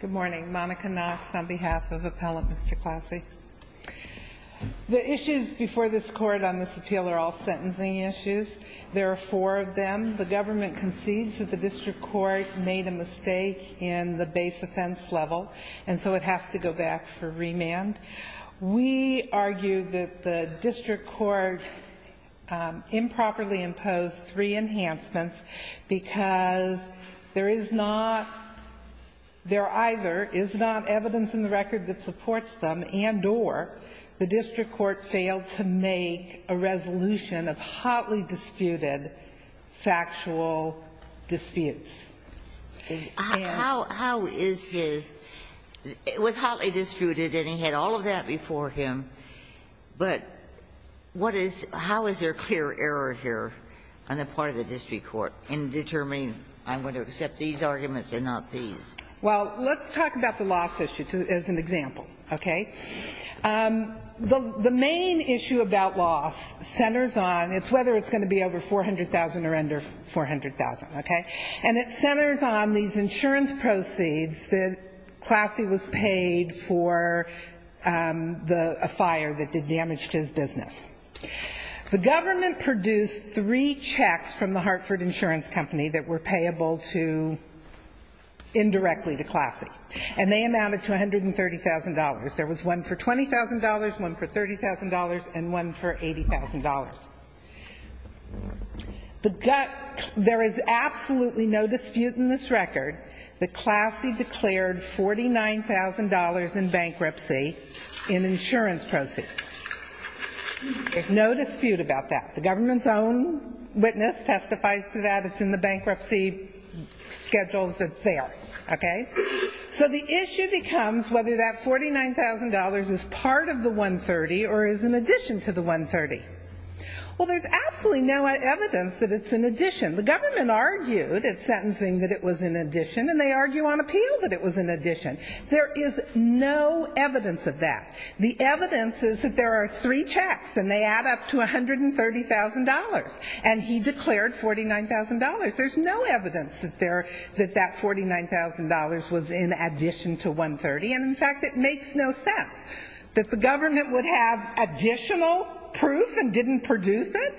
Good morning. Monica Knox on behalf of Appellant Mr. Klassy. The issues before this court on this appeal are all sentencing issues. There are four of them. The government concedes that the district court made a mistake in the base offense level and so it has to go back for remand. We argue that the district court improperly imposed three enhancements because there is not, there either is not evidence in the record that supports them and or the district court failed to make a resolution of hotly disputed factual disputes. How is his, it was hotly disputed and he had all of that before him, but what is, how is there clear error here on the part of the district court in determining I'm going to accept these arguments and not these? Well, let's talk about the loss issue as an example, okay? The main issue about loss centers on, it's whether it's going to be over 400,000 or under 400,000, okay? And it centers on these insurance proceeds that Klassy was paid for a fire that did damage to his business. The government produced three checks from the Hartford Insurance Company that were payable to indirectly to Klassy and they amounted to $130,000. There was one for $20,000, one for $30,000 and one for $80,000. The gut, there is absolutely no dispute in this record that Klassy declared $49,000 in bankruptcy in insurance proceeds. There's no dispute about that. The government's own witness testifies to that. It's in the bankruptcy schedule that's there, okay? So the issue becomes whether that $49,000 is part of the 130 or is an addition to the 130. Well, there's absolutely no evidence that it's an addition. The government argued at sentencing that it was an addition and they argue on appeal that it was an addition. There is no evidence of that. The evidence is that there are three checks and they add up to $130,000. And he declared $49,000. There's no evidence that that $49,000 was in addition to 130. And, in fact, it makes no sense that the government would have additional proof and didn't produce it.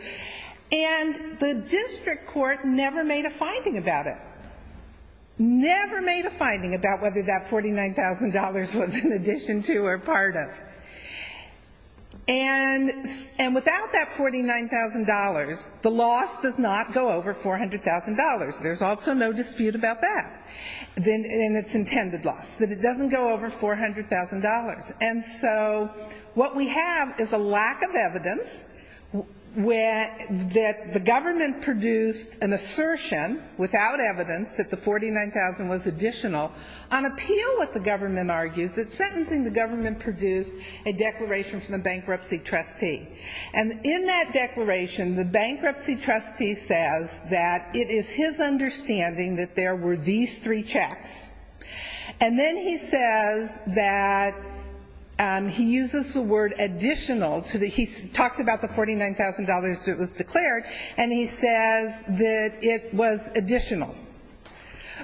And the district court never made a finding about it, never made a finding about whether that $49,000 was an addition to or part of. And without that $49,000, the loss does not go over $400,000. There's also no dispute about that in its intended loss, that it doesn't go over $400,000. And so what we have is a lack of evidence that the government produced an assertion without evidence that the government produced a declaration from the bankruptcy trustee. And in that declaration, the bankruptcy trustee says that it is his understanding that there were these three checks. And then he says that he uses the word additional. He talks about the $49,000 that was declared and he says that it was additional.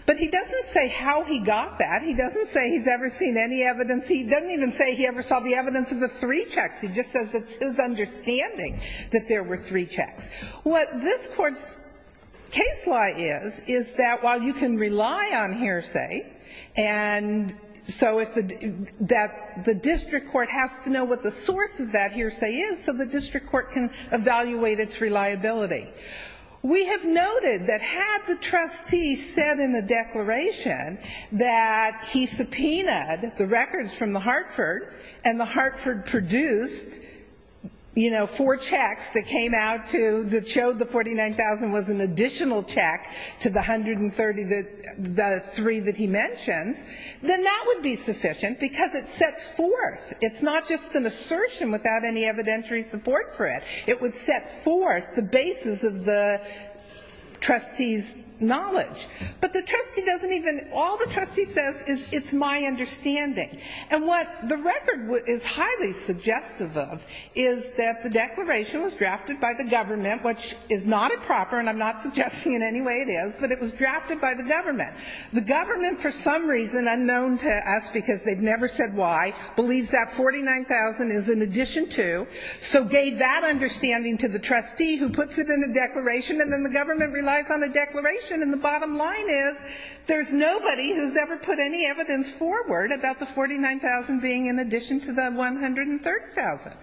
But he doesn't say how he got that. He doesn't say he's ever seen any evidence. He doesn't even say he ever saw the evidence of the three checks. He just says it's his understanding that there were three checks. What this court's case law is, is that while you can rely on hearsay, and so that the district court has to know what the source of that hearsay is so the district court can evaluate its reliability. We have noted that had the trustee said in the declaration that he subpoenaed the records from the Hartford, and the Hartford produced, you know, four checks that came out to, that showed the $49,000 was an additional check to the 133 that he mentions, then that would be sufficient because it sets forth. It's not just an assertion without any evidentiary support for it. It would set forth the basis of the trustee's knowledge. But the trustee doesn't even, all the trustee says is it's my understanding. And what the record is highly suggestive of is that the declaration was drafted by the government, which is not improper and I'm not suggesting in any way it is, but it was drafted by the government. The government for some reason, unknown to us because they've never said why, believes that $49,000 is in addition to, so gave that understanding to the trustee who puts it in a declaration and then the government relies on a declaration. And the bottom line is there's nobody who's ever put any evidence forward about the $49,000 being in addition to the $130,000.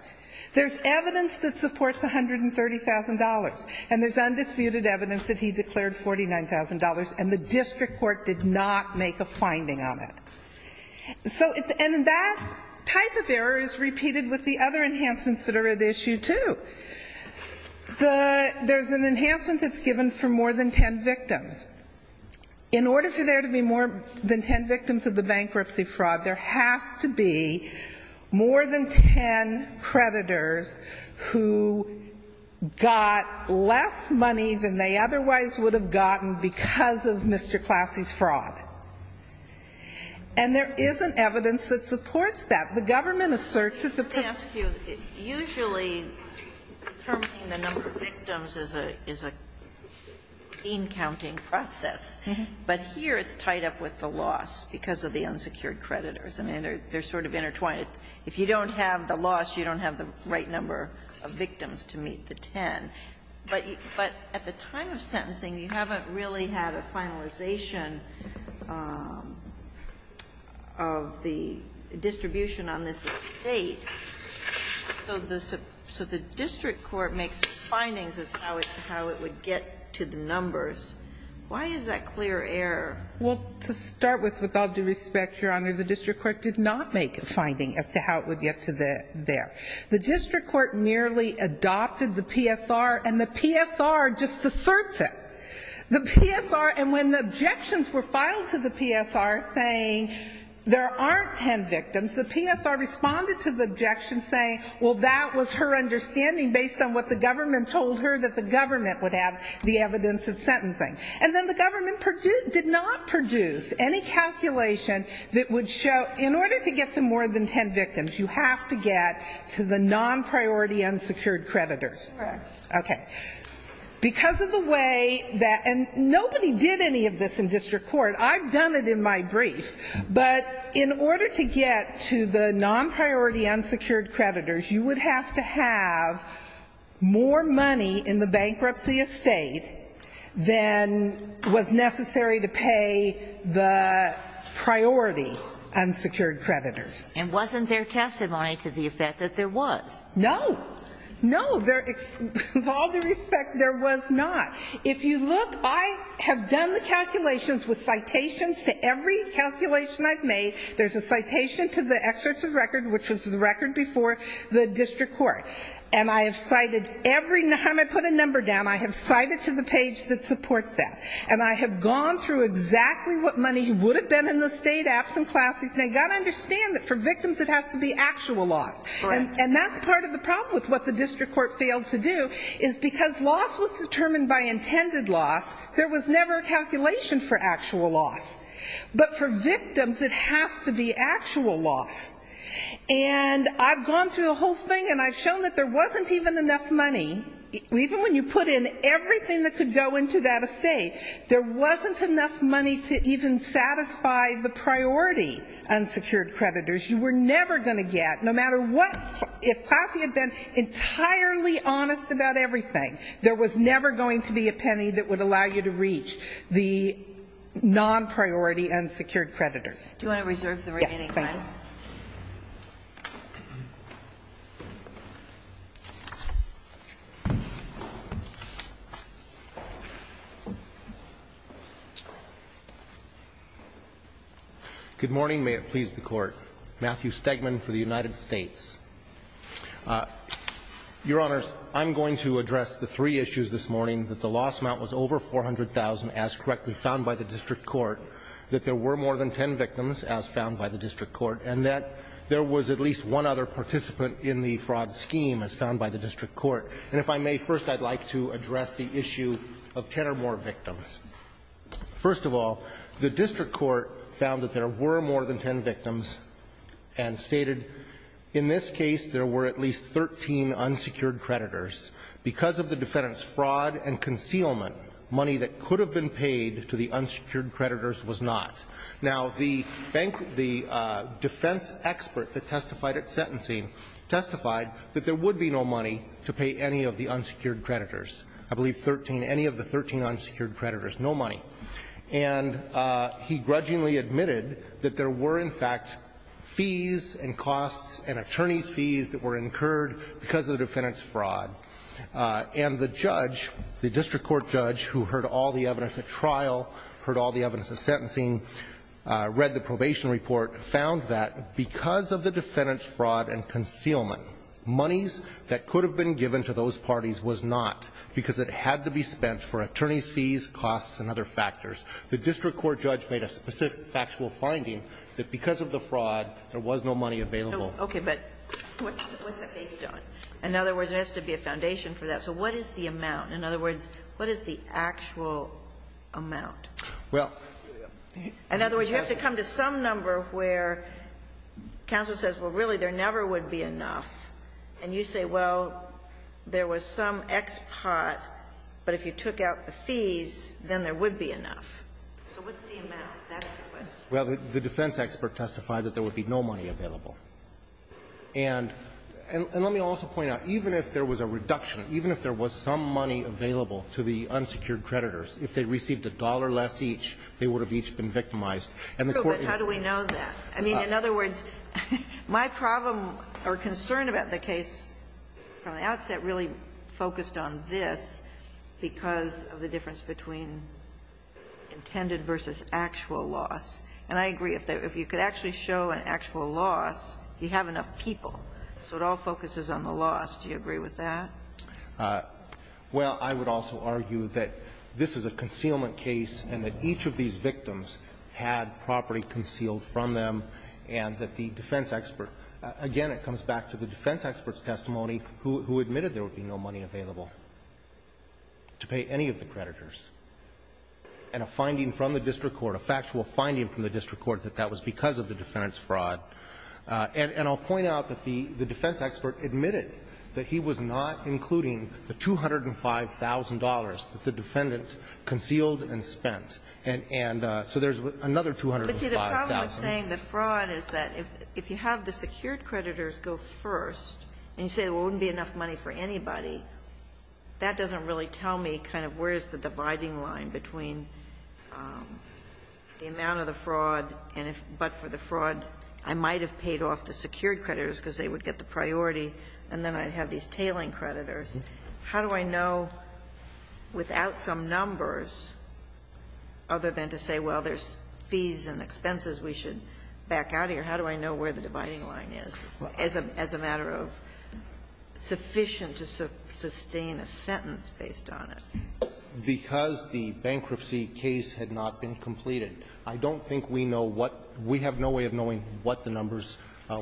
There's evidence that supports $130,000 and there's undisputed evidence that he declared $49,000 and the district court did not make a finding on it. And that type of error is repeated with the other enhancements that are at issue, too. There's an enhancement that's given for more than ten victims. In order for there to be more than ten victims of the bankruptcy fraud, there has to be more than ten creditors who got less money than they otherwise would have gotten because of Mr. Classy's fraud. And there is an evidence that supports that. The government asserts that the per... Let me ask you. Usually, determining the number of victims is an in-counting process, but here it's tied up with the loss because of the unsecured creditors. I mean, they're sort of intertwined. If you don't have the loss, you don't have the right number of victims to meet the ten. But at the time of sentencing, you haven't really had a finalization of the distribution on this estate, so the district court makes findings as to how it would get to the numbers. Why is that clear error? Well, to start with, with all due respect, Your Honor, the district court did not make a finding as to how it would get to there. The district court merely adopted the PSR, and the PSR just asserts it. The PSR, and when the objections were filed to the PSR saying there aren't ten victims, the PSR responded to the objection saying, well, that was her understanding based on what the government told her that the government would have the evidence of sentencing. And then the government did not produce any calculation that would show in order to get to more than ten victims, you have to get to the non-priority unsecured creditors. Correct. Okay. Because of the way that, and nobody did any of this in district court. I've done it in my brief. But in order to get to the non-priority unsecured creditors, you would have to have more money in the bankruptcy estate than was necessary to pay the priority unsecured creditors. And wasn't there testimony to the effect that there was? No. No. With all due respect, there was not. If you look, I have done the calculations with citations to every calculation I've made. There's a citation to the excerpts of record, which was the record before the district court. And I have cited, every time I put a number down, I have cited to the page that supports that. And I have gone through exactly what money would have been in the state absent classes. And they've got to understand that for victims it has to be actual loss. Right. And that's part of the problem with what the district court failed to do, is because loss was determined by intended loss, there was never a calculation for actual loss. But for victims, it has to be actual loss. And I've gone through the whole thing, and I've shown that there wasn't even enough money, even when you put in everything that could go into that estate, there wasn't enough money to even satisfy the priority unsecured creditors. You were never going to get, no matter what, if Classy had been entirely honest about everything, there was never going to be a penny that would allow you to reach the non-priority unsecured creditors. Do you want to reserve the remaining time? Yes, please. Good morning. May it please the Court. Matthew Stegman for the United States. Your Honors, I'm going to address the three issues this morning, that the loss amount was over $400,000, as correctly found by the district court, that there were more than 10 victims, as found by the district court, and that there was at least one other participant in the fraud scheme, as found by the district court. And if I may, first, I'd like to address the issue of 10 or more victims. First of all, the district court found that there were more than 10 victims and stated, in this case, there were at least 13 unsecured creditors. Because of the defendant's fraud and concealment, money that could have been paid to the unsecured creditors was not. Now, the defense expert that testified at sentencing testified that there would be no money to pay any of the unsecured creditors. I believe 13, any of the 13 unsecured creditors, no money. And he grudgingly admitted that there were, in fact, fees and costs and attorney's fees that were incurred because of the defendant's fraud. And the judge, the district court judge, who heard all the evidence at trial, heard all the evidence at sentencing, read the probation report, found that because of the defendant's fraud and concealment, monies that could have been given to those parties was not, because it had to be spent for attorney's fees, costs, and other factors. The district court judge made a specific factual finding that because of the fraud, there was no money available. Ginsburg. Okay, but what's that based on? In other words, there has to be a foundation for that. So what is the amount? In other words, what is the actual amount? In other words, you have to come to some number where counsel says, well, really, there never would be enough. And you say, well, there was some expat, but if you took out the fees, then there would be enough. So what's the amount? That's the question. Well, the defense expert testified that there would be no money available. And let me also point out, even if there was a reduction, even if there was some money available to the unsecured creditors, if they received a dollar less each, they would have each been victimized. And the court indicated that. But how do we know that? I mean, in other words, my problem or concern about the case from the outset really focused on this because of the difference between intended versus actual loss. And I agree. If you could actually show an actual loss, you have enough people. So it all focuses on the loss. Do you agree with that? Well, I would also argue that this is a concealment case and that each of these victims had property concealed from them, and that the defense expert – again, it comes back to the defense expert's testimony who admitted there would be no money available to pay any of the creditors, and a finding from the district court, a factual finding from the district court that that was because of the defendant's fraud, and I'll point out that the defense expert admitted that he was not including the $205,000 that the defendant concealed and spent, and so there's another $205,000. But see, the problem with saying the fraud is that if you have the secured creditors go first and you say, well, it wouldn't be enough money for anybody, that doesn't really tell me kind of where is the dividing line between the amount of the fraud and if – but for the fraud, I might have paid off the secured creditors because they would get the priority, and then I'd have these tailing creditors. How do I know without some numbers, other than to say, well, there's fees and expenses we should back out of here, how do I know where the dividing line is as a matter of sufficient to sustain a sentence based on it? Because the bankruptcy case had not been completed. I don't think we know what – we have no way of knowing what the numbers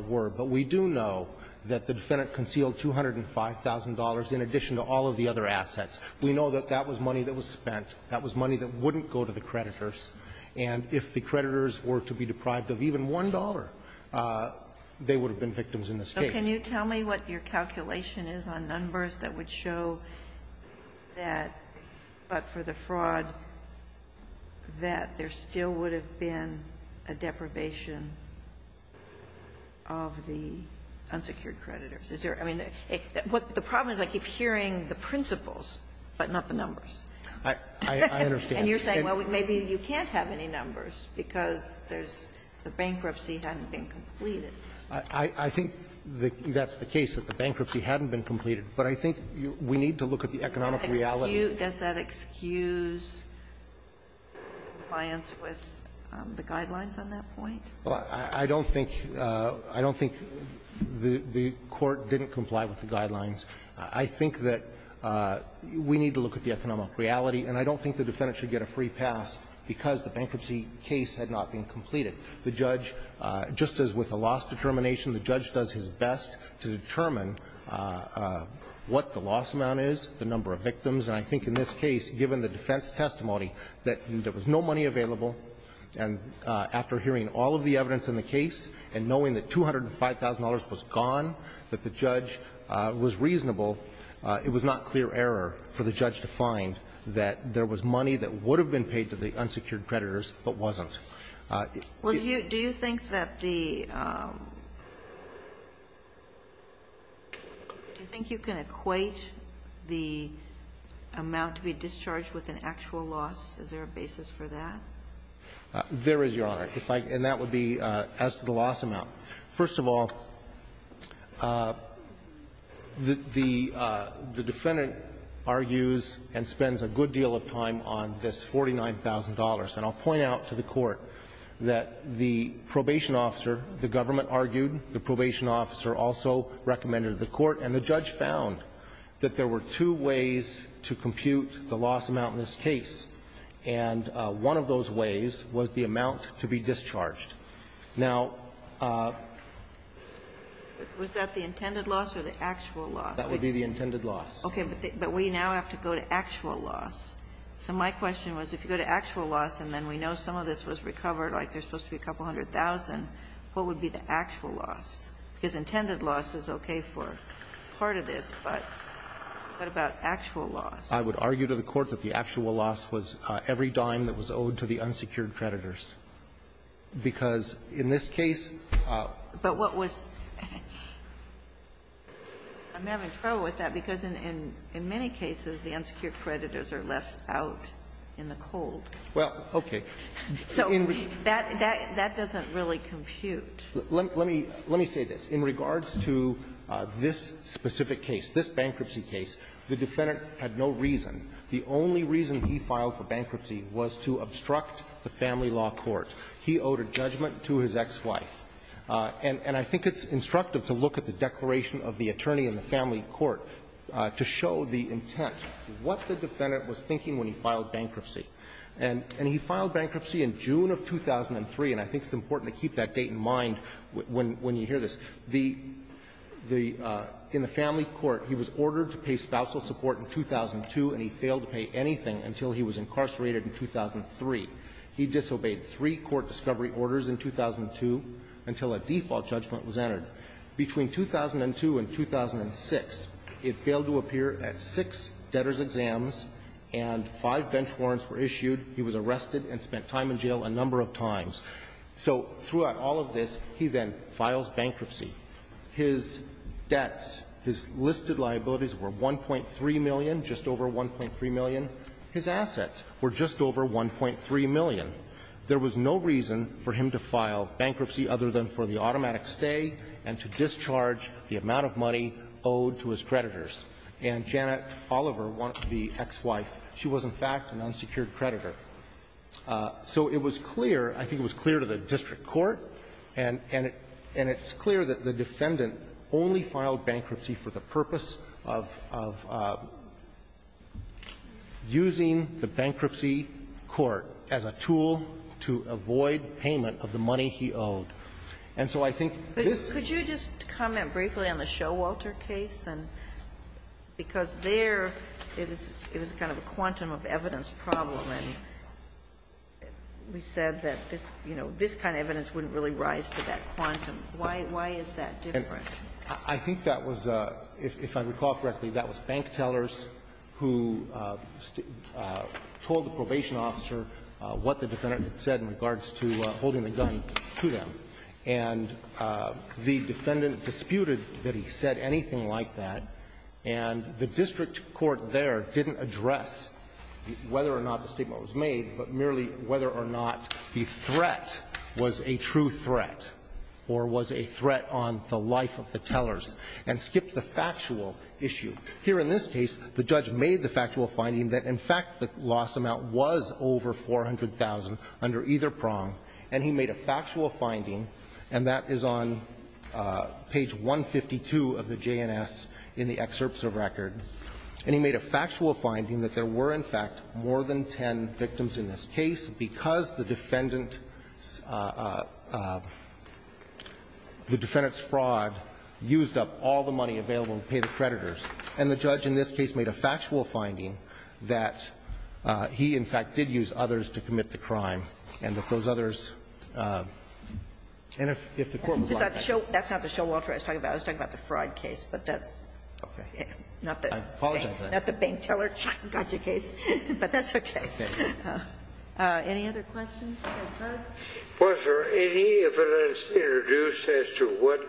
were. But we do know that the defendant concealed $205,000 in addition to all of the other assets. We know that that was money that was spent. That was money that wouldn't go to the creditors. And if the creditors were to be deprived of even $1, they would have been victims in this case. Sotomayor, can you tell me what your calculation is on numbers that would show that – but for the fraud, that there still would have been a deprivation of the unsecured creditors? Is there – I mean, the problem is I keep hearing the principles, but not the numbers. I understand. And you're saying, well, maybe you can't have any numbers because there's – the bankruptcy hadn't been completed. I think that's the case, that the bankruptcy hadn't been completed. But I think we need to look at the economic reality. Does that excuse compliance with the guidelines on that point? Well, I don't think – I don't think the Court didn't comply with the guidelines. I think that we need to look at the economic reality. And I don't think the defendant should get a free pass because the bankruptcy case had not been completed. The judge, just as with the loss determination, the judge does his best to determine what the loss amount is, the number of victims. And I think in this case, given the defense testimony, that there was no money available, and after hearing all of the evidence in the case and knowing that $205,000 was gone, that the judge was reasonable, it was not clear error for the judge to find that there was money that would have been paid to the unsecured creditors but wasn't. Well, do you think that the – do you think you can equate the amount to be discharged with an actual loss? Is there a basis for that? There is, Your Honor. And that would be as to the loss amount. First of all, the defendant argues and spends a good deal of time on this $49,000. And I'll point out to the Court that the probation officer, the government argued, the probation officer also recommended to the Court, and the judge found that there were two ways to compute the loss amount in this case. And one of those ways was the amount to be discharged. Now – Was that the intended loss or the actual loss? That would be the intended loss. Okay. But we now have to go to actual loss. So my question was, if you go to actual loss and then we know some of this was recovered, like there's supposed to be a couple hundred thousand, what would be the actual loss? Because intended loss is okay for part of this, but what about actual loss? I would argue to the Court that the actual loss was every dime that was owed to the unsecured creditors, because in this case – But what was – I'm having trouble with that, because in many cases the unsecured creditors are left out in the cold. Well, okay. So that doesn't really compute. Let me say this. In regards to this specific case, this bankruptcy case, the defendant had no reason. The only reason he filed for bankruptcy was to obstruct the family law court. He owed a judgment to his ex-wife. And I think it's instructive to look at the declaration of the attorney in the family court to show the intent, what the defendant was thinking when he filed bankruptcy. And he filed bankruptcy in June of 2003, and I think it's important to keep that date in mind when you hear this. The – in the family court, he was ordered to pay spousal support in 2002, and he failed to pay anything until he was incarcerated in 2003. He disobeyed three court discovery orders in 2002 until a default judgment was entered. Between 2002 and 2006, it failed to appear at six debtor's exams, and five bench warrants were issued. He was arrested and spent time in jail a number of times. So throughout all of this, he then files bankruptcy. His debts, his listed liabilities were $1.3 million, just over $1.3 million. His assets were just over $1.3 million. There was no reason for him to file bankruptcy other than for the automatic stay and to discharge the amount of money owed to his creditors. And Janet Oliver, the ex-wife, she was, in fact, an unsecured creditor. So it was clear, I think it was clear to the district court, and it's clear that the defendant only filed bankruptcy for the purpose of using the bankruptcy court as a tool to avoid payment of the money he owed. And so I think this ---- Could you just comment briefly on the Showalter case? Because there, it was kind of a quantum of evidence problem, and we said that this kind of evidence wouldn't really rise to that quantum. Why is that different? I think that was, if I recall correctly, that was bank tellers who told the prosecutor and the probation officer what the defendant had said in regards to holding the gun to them, and the defendant disputed that he said anything like that. And the district court there didn't address whether or not the statement was made, but merely whether or not the threat was a true threat or was a threat on the life of the tellers, and skipped the factual issue. Here in this case, the judge made the factual finding that, in fact, the loss amount was over $400,000 under either prong, and he made a factual finding, and that is on page 152 of the JNS in the excerpts of record. And he made a factual finding that there were, in fact, more than 10 victims in this case because the defendant's fraud used up all the money available to pay the creditors. And the judge in this case made a factual finding that he, in fact, did use others to commit the crime, and that those others, and if the court would like that. That's not the Showalter I was talking about. I was talking about the fraud case, but that's not the bank teller, got your case. But that's okay. Any other questions? Was there any evidence introduced as to what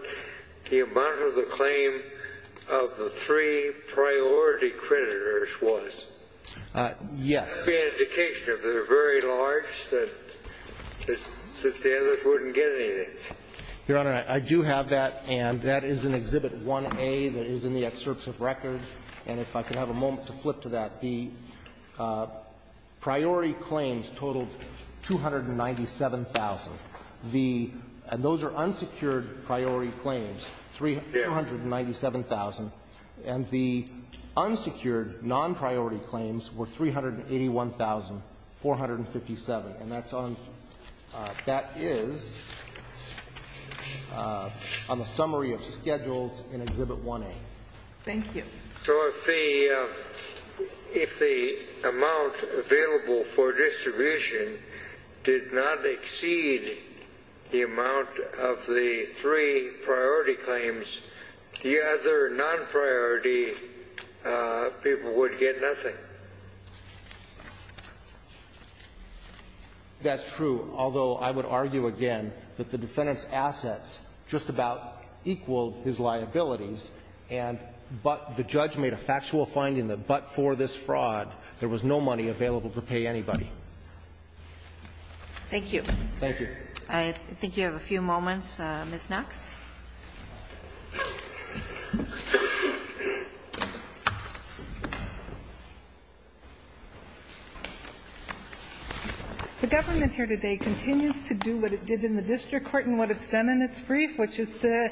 the amount of the claim of the three priority creditors was? Yes. That would be an indication, if they were very large, that the others wouldn't get anything. Your Honor, I do have that, and that is in Exhibit 1A that is in the excerpts of record. And if I could have a moment to flip to that. The priority claims totaled $297,000. And those are unsecured priority claims, $297,000. And the unsecured non-priority claims were $381,457. And that is on the summary of schedules in Exhibit 1A. Thank you. So if the amount available for distribution did not exceed the amount of the three priority claims, the other non-priority people would get nothing. That's true. Although, I would argue again that the defendant's assets just about equaled his liabilities. But the judge made a factual finding that but for this fraud, there was no money available to pay anybody. Thank you. Thank you. I think you have a few moments. Ms. Knox. The government here today continues to do what it did in the district court and what it's done in its brief, which is to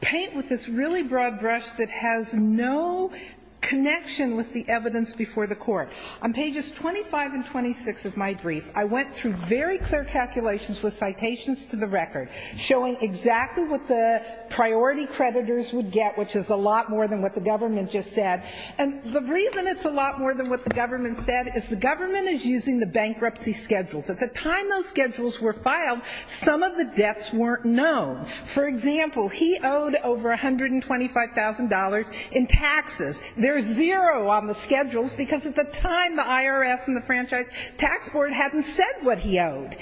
paint with this really broad brush that has no connection with the evidence before the court. On pages 25 and 26 of my brief, I went through very clear calculations with citations to the record, showing exactly what the priority creditors would get, which is a lot more than what the government just said. And the reason it's a lot more than what the government said is the government is using the bankruptcy schedules. At the time those schedules were filed, some of the debts weren't known. For example, he owed over $125,000 in taxes. There's zero on the schedules because at the time the IRS and the Franchise Tax Board hadn't said what he owed.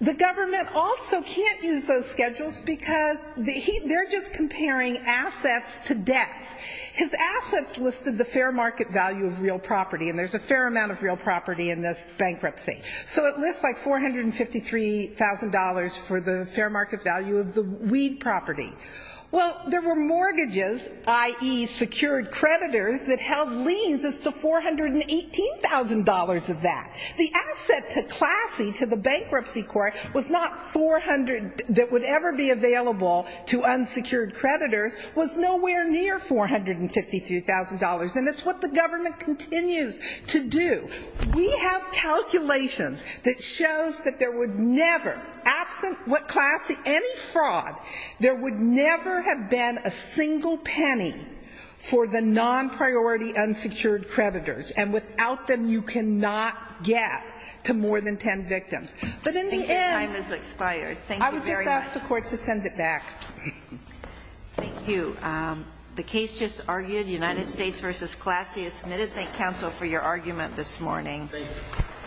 The government also can't use those schedules because they're just comparing assets to debts. His assets listed the fair market value of real property, and there's a fair amount of real property in this bankruptcy. So it lists like $453,000 for the fair market value of the weed property. Well, there were mortgages, i.e., secured creditors, that held liens as to $418,000 of that. The asset to Classy, to the bankruptcy court, was not 400 that would ever be available to unsecured creditors, was nowhere near $453,000. And it's what the government continues to do. We have calculations that shows that there would never, absent what Classy, absent any fraud, there would never have been a single penny for the non-priority unsecured creditors. And without them, you cannot get to more than 10 victims. But in the end, I would just ask the court to send it back. Thank you. The case just argued, United States v. Classy, is submitted. Thank you.